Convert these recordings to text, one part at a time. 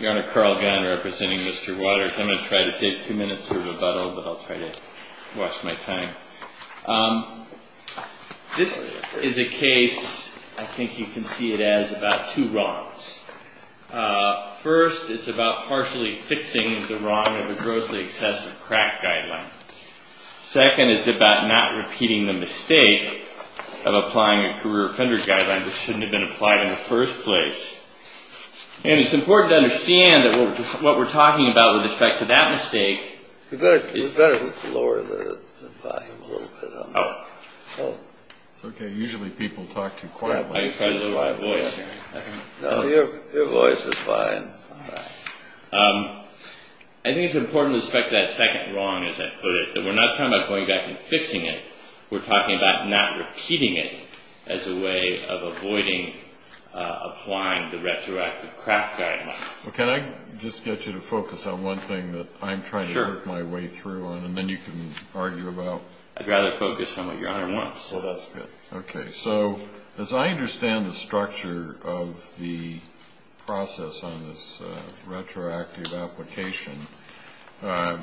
Your Honor, Carl Gunn, representing Mr. Waters. I'm going to try to save two minutes for rebuttal, but I'll try to watch my time. This is a case, I think you can see it as, about two wrongs. First, it's about partially fixing the wrong of the grossly excessive crack guideline. Second, it's about not repeating the mistake of applying a career offender guideline that shouldn't have been applied in the first place. And it's important to understand that what we're talking about with respect to that mistake... You better lower the volume a little bit. It's okay, usually people talk too quietly. Your voice is fine. I think it's important with respect to that second wrong, as I put it, that we're not talking about going back and fixing it. We're talking about not repeating it as a way of avoiding applying the retroactive crack guideline. Can I just get you to focus on one thing that I'm trying to work my way through on, and then you can argue about... I'd rather focus on what Your Honor wants. Well, that's good. Okay, so as I understand the structure of the process on this retroactive application... It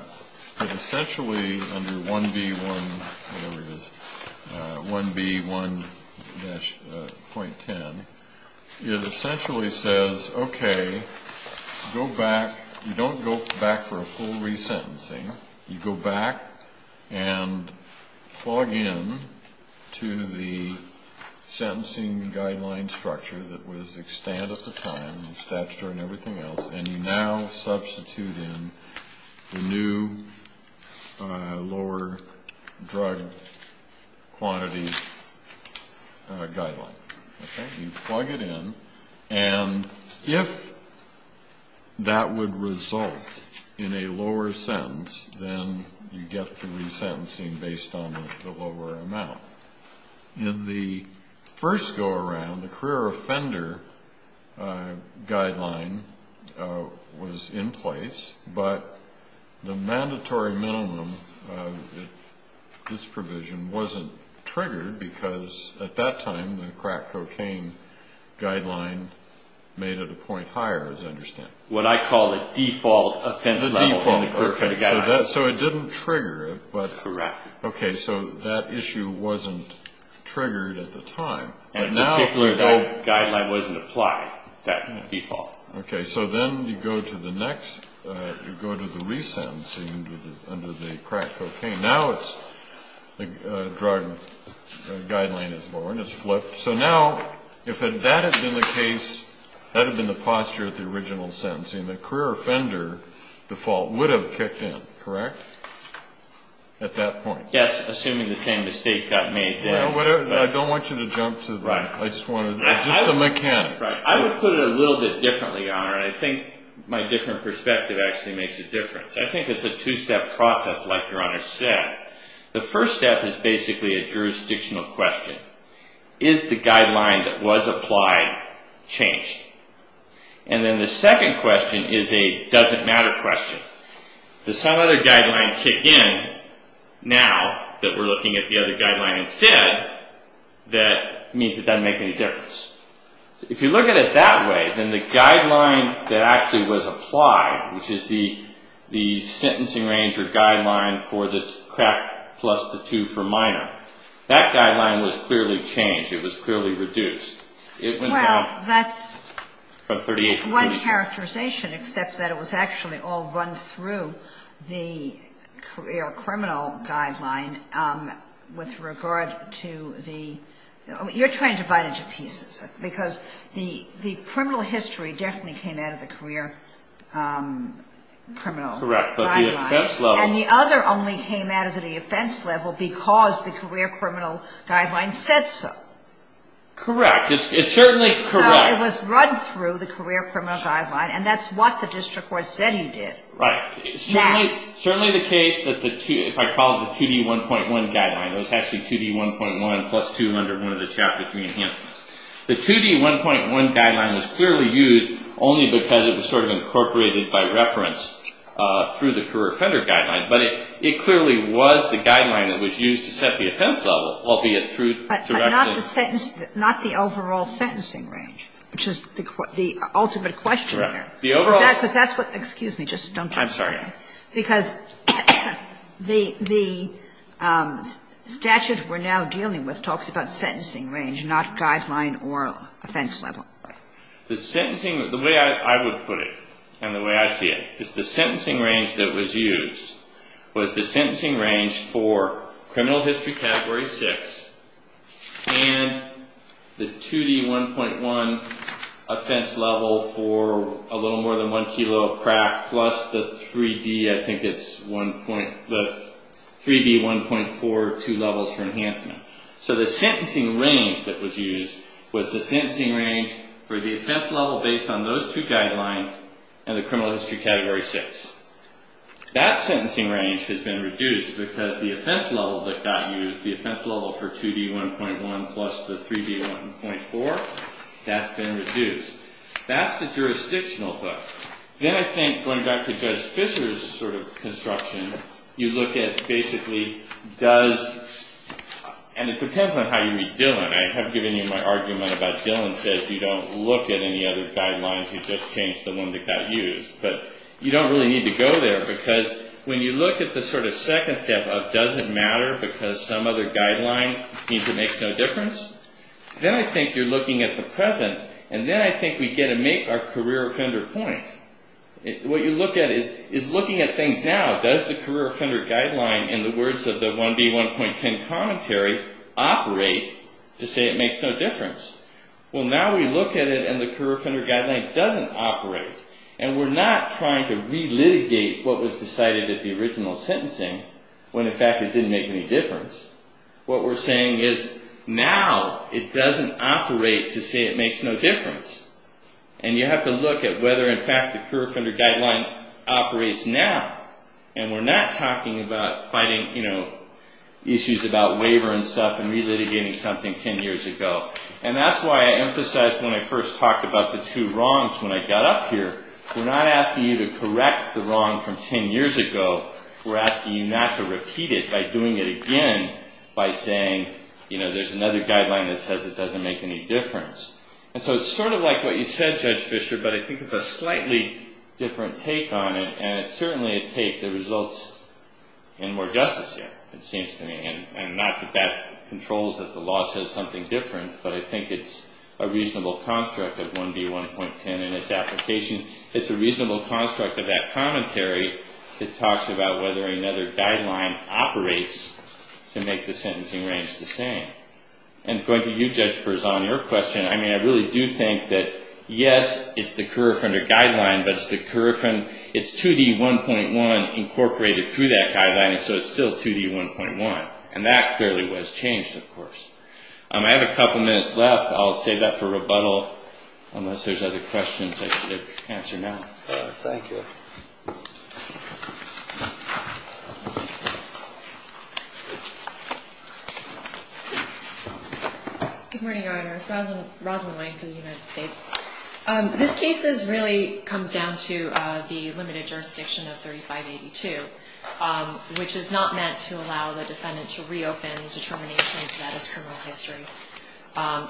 essentially, under 1B1-.10... It essentially says, okay, go back... You don't go back for a full resentencing. You go back and plug in to the sentencing guideline structure that was extant at the time... Statutory and everything else. And you now substitute in the new lower drug quantity guideline. You plug it in, and if that would result in a lower sentence, then you get the resentencing based on the lower amount. In the first go-around, the career offender guideline was in place... But the mandatory minimum of this provision wasn't triggered, because at that time, the crack cocaine guideline made it a point higher, as I understand. What I call the default offense level in the career offender guideline. So it didn't trigger it, but... Correct. Okay, so that issue wasn't triggered at the time. In particular, that guideline wasn't applied, that default. Okay, so then you go to the next... You go to the resentencing under the crack cocaine. Now it's... The drug guideline is lower, and it's flipped. So now, if that had been the case... That had been the posture at the original sentencing, the career offender default would have kicked in, correct? At that point. Yes, assuming the same mistake got made there. Well, whatever. I don't want you to jump to the... Right. I just wanted... Just the mechanics. I would put it a little bit differently, Your Honor, and I think my different perspective actually makes a difference. I think it's a two-step process, like Your Honor said. The first step is basically a jurisdictional question. Is the guideline that was applied changed? And then the second question is a doesn't matter question. Does some other guideline kick in now, that we're looking at the other guideline instead, that means it doesn't make any difference? If you look at it that way, then the guideline that actually was applied, which is the sentencing range or guideline for the crack plus the two for minor, that guideline was clearly changed. It was clearly reduced. It went down from 38 to 32. Well, that's one characterization, except that it was actually all run through the criminal guideline with regard to the... You're trying to divide it into pieces, because the criminal history definitely came out of the career criminal guideline. Correct. But the offense level... And the other only came out of the offense level because the career criminal guideline said so. Correct. It's certainly correct. So it was run through the career criminal guideline, and that's what the district court said you did. Right. Certainly the case that the two, if I call it the 2D1.1 guideline, it was actually 2D1.1 plus two under one of the Chapter 3 enhancements. The 2D1.1 guideline was clearly used only because it was sort of incorporated by reference through the career offender guideline. But it clearly was the guideline that was used to set the offense level, albeit through... But not the sentence, not the overall sentencing range, which is the ultimate question there. Correct. Excuse me. I'm sorry. Because the statute we're now dealing with talks about sentencing range, not guideline or offense level. The way I would put it and the way I see it is the sentencing range that was used was the sentencing range for criminal history Category 6 and the 2D1.1 offense level for a little more than one kilo of crack plus the 3D, I think it's one point... The 3D1.4, two levels for enhancement. So the sentencing range that was used was the sentencing range for the offense level based on those two guidelines and the criminal history Category 6. That sentencing range has been reduced because the offense level that got used, the offense level for 2D1.1 plus the 3D1.4, that's been reduced. That's the jurisdictional book. Then I think going back to Judge Fischer's sort of construction, you look at basically does... And it depends on how you read Dillon. I have given you my argument about Dillon says you don't look at any other guidelines, you just change the one that got used. But you don't really need to go there because when you look at the sort of second step of does it matter because some other guideline means it makes no difference? Then I think you're looking at the present and then I think we get to make our career offender point. What you look at is looking at things now. Does the career offender guideline in the words of the 1B1.10 commentary operate to say it makes no difference? Well, now we look at it and the career offender guideline doesn't operate. And we're not trying to re-litigate what was decided at the original sentencing when in fact it didn't make any difference. What we're saying is now it doesn't operate to say it makes no difference. And you have to look at whether in fact the career offender guideline operates now. And we're not talking about fighting issues about waiver and stuff and re-litigating something 10 years ago. And that's why I emphasized when I first talked about the two wrongs when I got up here. We're not asking you to correct the wrong from 10 years ago. We're asking you not to repeat it by doing it again by saying there's another guideline that says it doesn't make any difference. And so it's sort of like what you said, Judge Fischer, but I think it's a slightly different take on it. And it's certainly a take that results in more justice here, it seems to me. And not that that controls that the law says something different, but I think it's a reasonable construct of 1D1.10 in its application. It's a reasonable construct of that commentary that talks about whether another guideline operates to make the sentencing range the same. And going to you, Judge Berzon, your question, I mean, I really do think that, yes, it's the career offender guideline, but it's the career offender. It's 2D1.1 incorporated through that guideline, and so it's still 2D1.1. And that clearly was changed, of course. I have a couple minutes left. I'll save that for rebuttal unless there's other questions I should answer now. Thank you. Good morning, Your Honor. This is Rosalyn Wink of the United States. This case really comes down to the limited jurisdiction of 3582, which is not meant to allow the defendant to reopen determinations that is criminal history.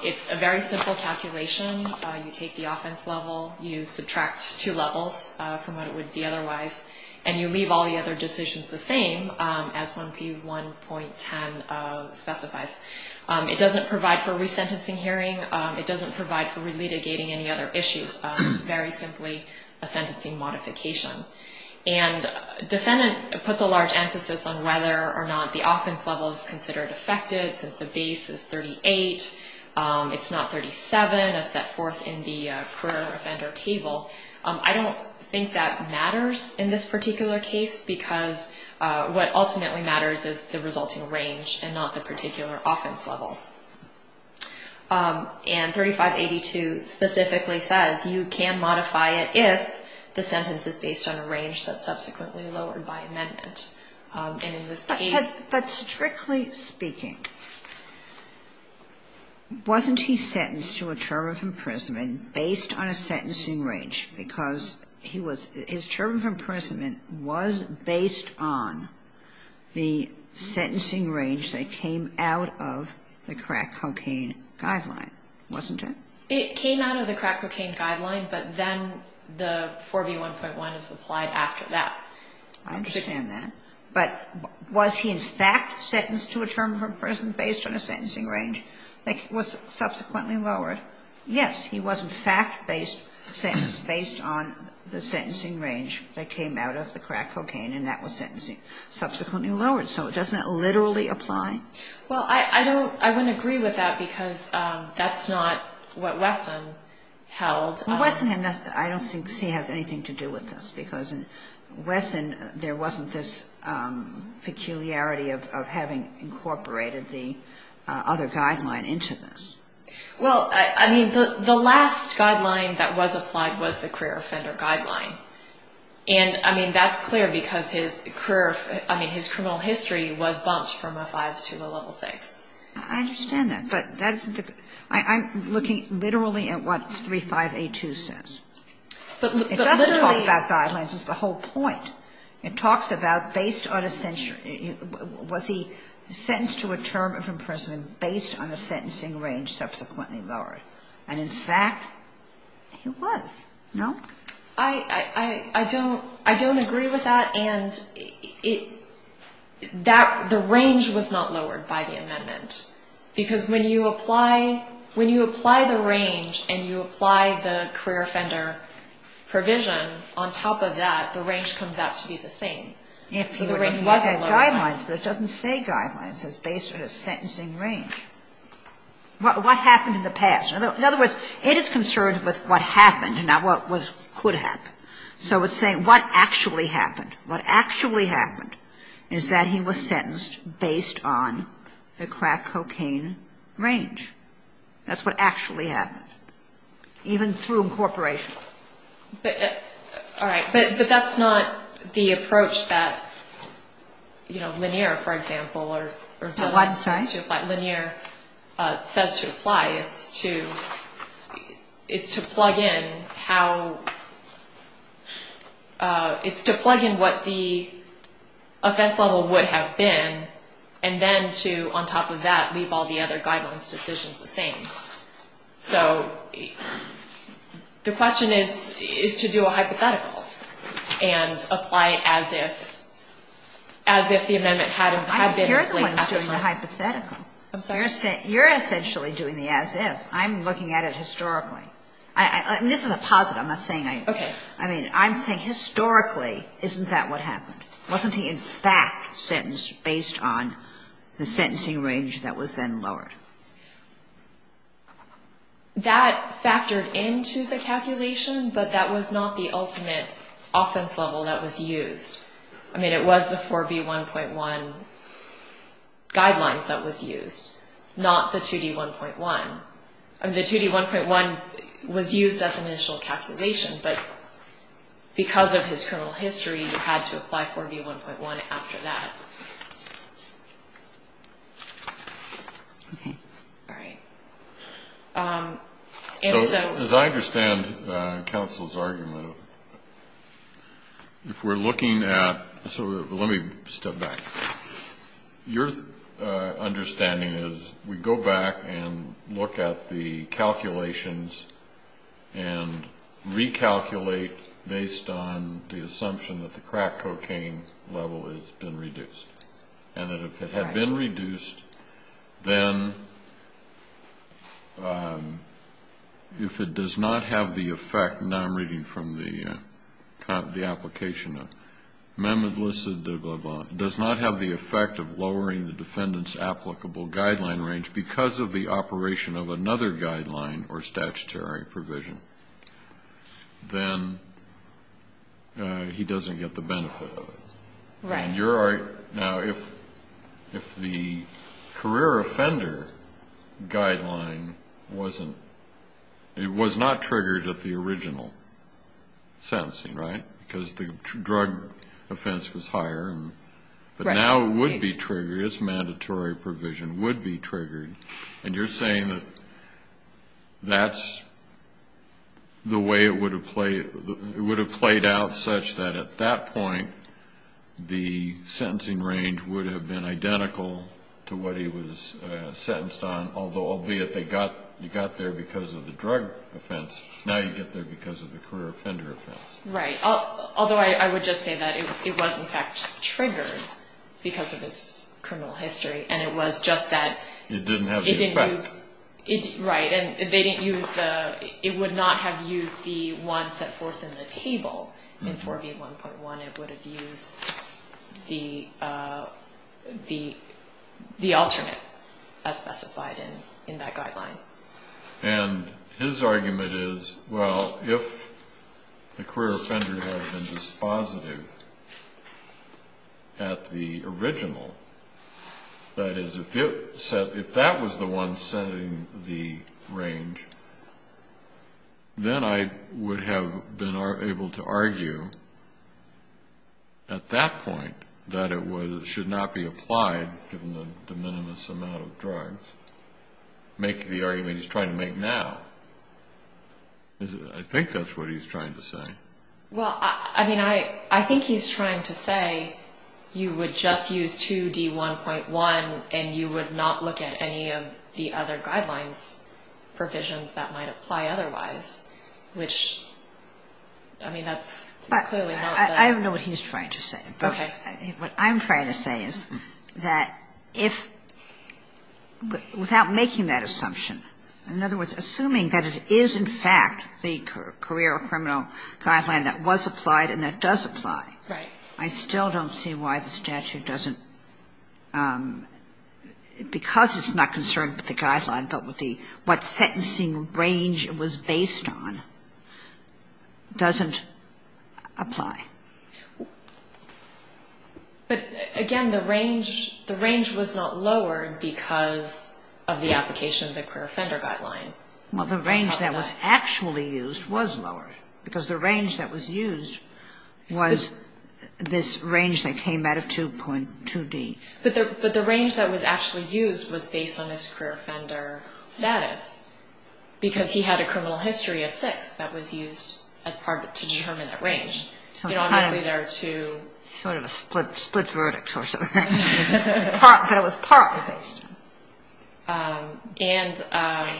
It's a very simple calculation. You take the offense level, you subtract two levels from what it would be otherwise, and you leave all the other decisions the same as 1P1.10 specifies. It doesn't provide for resentencing hearing. It doesn't provide for re-litigating any other issues. It's very simply a sentencing modification. And defendant puts a large emphasis on whether or not the offense level is considered affected since the base is 38. It's not 37 as set forth in the career offender table. I don't think that matters in this particular case because what ultimately matters is the resulting range and not the particular offense level. And 3582 specifically says you can modify it if the sentence is based on a range that's subsequently lowered by amendment. And in this case — But strictly speaking, wasn't he sentenced to a term of imprisonment based on a sentencing range? Because his term of imprisonment was based on the sentencing range that came out of the crack cocaine guideline, wasn't it? It came out of the crack cocaine guideline, but then the 4B1.1 is applied after that. I understand that. But was he in fact sentenced to a term of imprisonment based on a sentencing range that was subsequently lowered? Yes. He was in fact based on the sentencing range that came out of the crack cocaine and that was subsequently lowered. So doesn't that literally apply? Well, I don't — I wouldn't agree with that because that's not what Wesson held. Well, Wesson had nothing — I don't think he has anything to do with this because in Wesson there wasn't this peculiarity of having incorporated the other guideline into this. Well, I mean, the last guideline that was applied was the career offender guideline. And, I mean, that's clear because his career — I mean, his criminal history was bumped from a 5 to a level 6. I understand that. But that's — I'm looking literally at what 3582 says. But literally — It doesn't talk about guidelines. It's the whole point. It talks about based on a — was he sentenced to a term of imprisonment based on a sentencing range? And that's what Wesson said. He said that the range was subsequently lowered. And in fact, it was. No? I don't — I don't agree with that. And that — the range was not lowered by the amendment. Because when you apply — when you apply the range and you apply the career offender provision, on top of that, the range comes out to be the same. So the range wasn't lowered. Guidelines, but it doesn't say guidelines. It says based on a sentencing range. What happened in the past? In other words, it is concerned with what happened and not what was — could happen. So it's saying what actually happened. What actually happened is that he was sentenced based on the crack cocaine range. That's what actually happened, even through incorporation. All right. But that's not the approach that, you know, Lanier, for example, or — I'm sorry? Lanier says to apply. It's to — it's to plug in how — it's to plug in what the offense level would have been and then to, on top of that, leave all the other guidelines decisions the same. So the question is, is to do a hypothetical and apply it as if — as if the amendment had been in place. I appear to be doing the hypothetical. I'm sorry? You're essentially doing the as if. I'm looking at it historically. And this is a positive. I'm not saying I — Okay. I mean, I'm saying historically, isn't that what happened? Wasn't he in fact sentenced based on the sentencing range that was then lowered? That factored into the calculation, but that was not the ultimate offense level that was used. I mean, it was the 4B1.1 guidelines that was used, not the 2D1.1. I mean, the 2D1.1 was used as an initial calculation, but because of his criminal history, you had to apply 4B1.1 after that. Okay. All right. And so — As I understand counsel's argument, if we're looking at — so let me step back. Your understanding is we go back and look at the calculations and recalculate based on the assumption that the crack cocaine level has been reduced. And if it had been reduced, then if it does not have the effect — the effect of lowering the defendant's applicable guideline range because of the operation of another guideline or statutory provision, then he doesn't get the benefit of it. Right. Now, if the career offender guideline wasn't — it was not triggered at the original sentencing, right? Because the drug offense was higher. Right. But now it would be triggered. Its mandatory provision would be triggered. And you're saying that that's the way it would have played — it would have played out such that at that point, the sentencing range would have been identical to what he was sentenced on, albeit you got there because of the drug offense. Now you get there because of the career offender offense. Right. Although I would just say that it was, in fact, triggered because of its criminal history, and it was just that it didn't use — It didn't have the effect. Right. And they didn't use the — it would not have used the one set forth in the table in 4B1.1. It would have used the alternate as specified in that guideline. And his argument is, well, if the career offender had been dispositive at the original, that is, if that was the one setting the range, then I would have been able to argue at that point that it should not be applied, given the de minimis amount of drugs, make the argument he's trying to make now. I think that's what he's trying to say. Well, I mean, I think he's trying to say you would just use 2D1.1 and you would not look at any of the other guidelines provisions that might apply otherwise, which, I mean, that's clearly not — I don't know what he's trying to say. Okay. What I'm trying to say is that if — without making that assumption, in other words, assuming that it is, in fact, the career or criminal guideline that was applied and that does apply, I still don't see why the statute doesn't, because it's not concerned with the guideline but with the — what sentencing range it was based on, doesn't apply. But, again, the range was not lowered because of the application of the career offender guideline. Well, the range that was actually used was lowered, because the range that was used was this range that came out of 2.2D. But the range that was actually used was based on his career offender status, because he had a criminal history of six that was used to determine that range. You know, obviously there are two — Sort of a split verdict or something. But it was partly based. And,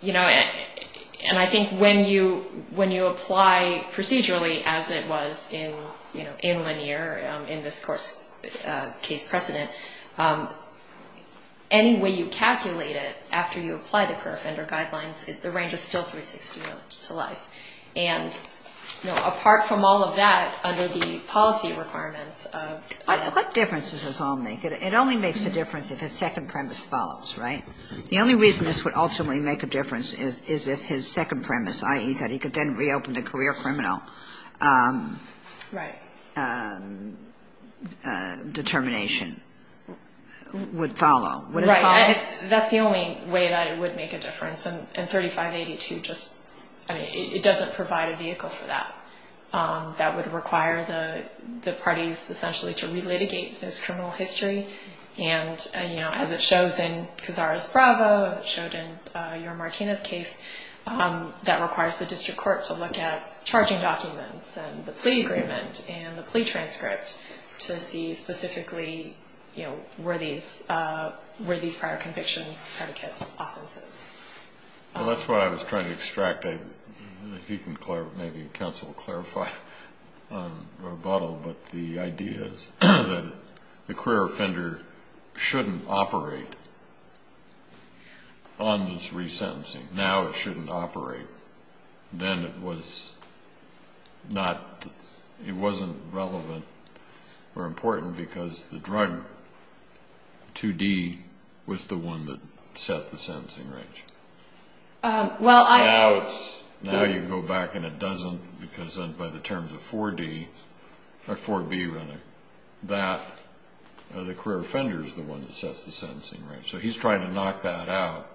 you know, and I think when you apply procedurally, as it was in Lanier, in this case precedent, any way you calculate it after you apply the career offender guidelines, the range is still 360 to life. And, you know, apart from all of that, under the policy requirements of — But what difference does this all make? It only makes a difference if his second premise follows, right? The only reason this would ultimately make a difference is if his second premise, i.e., that he could then reopen to career or criminal — Right. — determination would follow. Right. That's the only way that it would make a difference. And 3582 just — I mean, it doesn't provide a vehicle for that. That would require the parties essentially to relitigate his criminal history. And, you know, as it shows in Cazares-Bravo, as it showed in your Martinez case, that requires the district court to look at charging documents and the plea agreement and the plea transcript to see specifically, you know, were these prior convictions predicate offenses. Well, that's what I was trying to extract. If you can clarify, maybe counsel will clarify on rebuttal, but the idea is that the career offender shouldn't operate on this resentencing. Now it shouldn't operate. Then it was not — it wasn't relevant or important because the drug, 2D, was the one that set the sentencing range. Well, I — Now it's — now you go back and it doesn't because then by the terms of 4D — or 4B, rather, that the career offender is the one that sets the sentencing range. So he's trying to knock that out.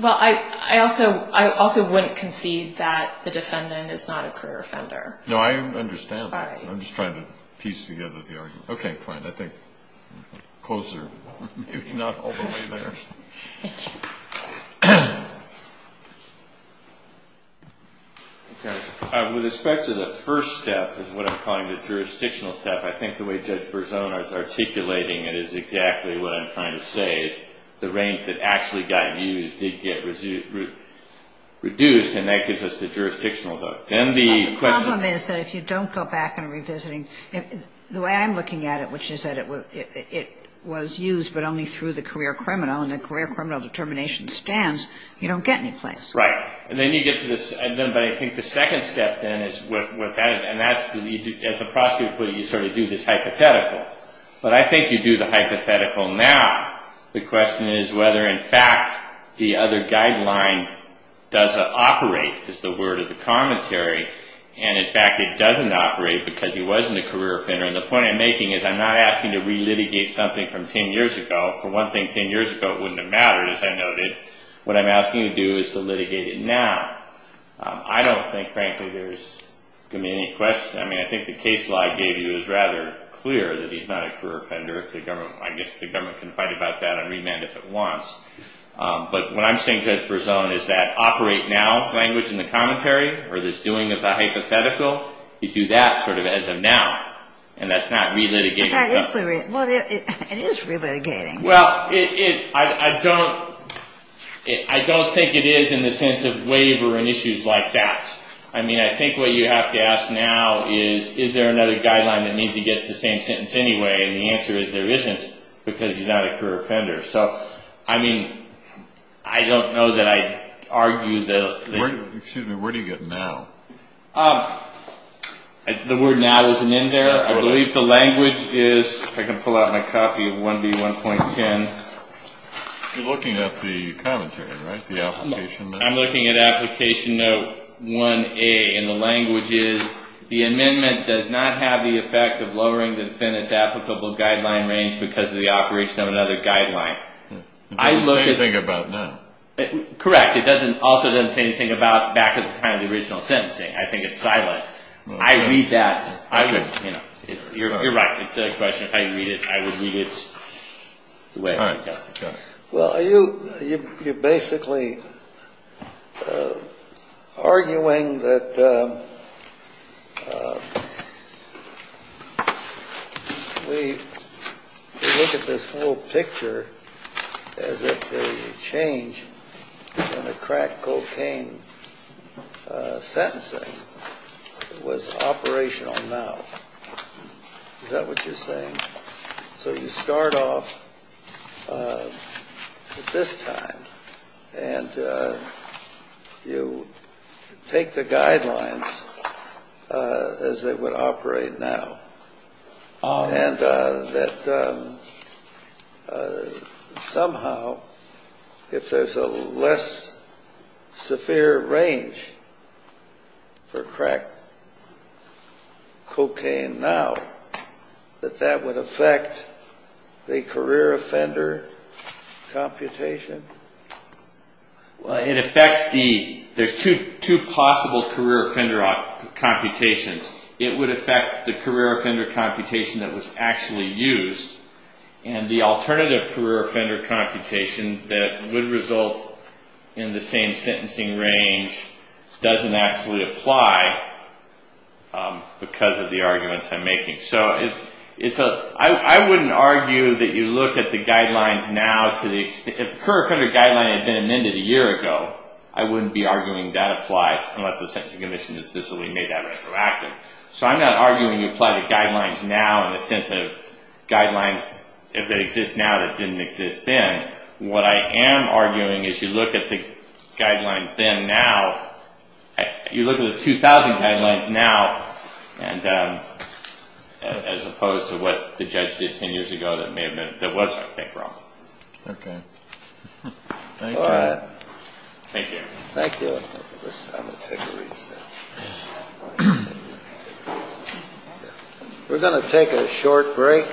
Well, I also wouldn't concede that the defendant is not a career offender. No, I understand that. I'm just trying to piece together the argument. Okay, fine. I think clothes are maybe not all the way there. Thank you. With respect to the first step, what I'm calling the jurisdictional step, I think the way Judge Berzona is articulating it is exactly what I'm trying to say, is the range that actually got used did get reduced, and that gives us the jurisdictional vote. Then the question — The problem is that if you don't go back and revisiting — the way I'm looking at it, which is that it was used but only through the career criminal, and the career criminal determination stands, you don't get any place. Right. And then you get to this — but I think the second step then is what that is, and that's — as the prosecutor put it, you sort of do this hypothetical. But I think you do the hypothetical now. The question is whether, in fact, the other guideline doesn't operate, is the word of the commentary. And, in fact, it doesn't operate because he wasn't a career offender. And the point I'm making is I'm not asking to relitigate something from 10 years ago. For one thing, 10 years ago, it wouldn't have mattered, as I noted. What I'm asking you to do is to litigate it now. I don't think, frankly, there's going to be any question. I mean, I think the case law I gave you is rather clear that he's not a career offender. I guess the government can fight about that on remand if it wants. But what I'm saying, Judge Berzon, is that operate now language in the commentary or this doing of the hypothetical, you do that sort of as of now, and that's not relitigating something. Well, it is relitigating. Well, I don't think it is in the sense of waiver and issues like that. I mean, I think what you have to ask now is, is there another guideline that means he gets the same sentence anyway? And the answer is there isn't because he's not a career offender. So, I mean, I don't know that I'd argue that. Excuse me, where do you get now? The word now isn't in there. I believe the language is, if I can pull out my copy of 1B1.10. You're looking at the commentary, right, the application note? Note 1A, and the language is, the amendment does not have the effect of lowering the defendant's applicable guideline range because of the operation of another guideline. It doesn't say anything about that. Correct. It also doesn't say anything about back at the time of the original sentencing. I think it's silent. I read that. You're right. It's a question of how you read it. I would read it the way it's suggested. Well, you're basically arguing that we look at this whole picture as if the change in the crack cocaine sentencing was operational now. So you start off at this time and you take the guidelines as they would operate now. And that somehow, if there's a less severe range for crack cocaine now, that that would affect the career offender computation? Well, it affects the, there's two possible career offender computations. It would affect the career offender computation that was actually used. And the alternative career offender computation that would result in the same sentencing range doesn't actually apply because of the arguments I'm making. So I wouldn't argue that you look at the guidelines now. If the career offender guideline had been amended a year ago, I wouldn't be arguing that applies unless the sentencing commission has visibly made that retroactive. So I'm not arguing you apply the guidelines now in the sense of guidelines, if they exist now that didn't exist then. What I am arguing is you look at the guidelines then now, you look at the 2000 guidelines now as opposed to what the judge did 10 years ago that was, I think, wrong. Okay. All right. Thank you. Thank you. We're going to take a short break.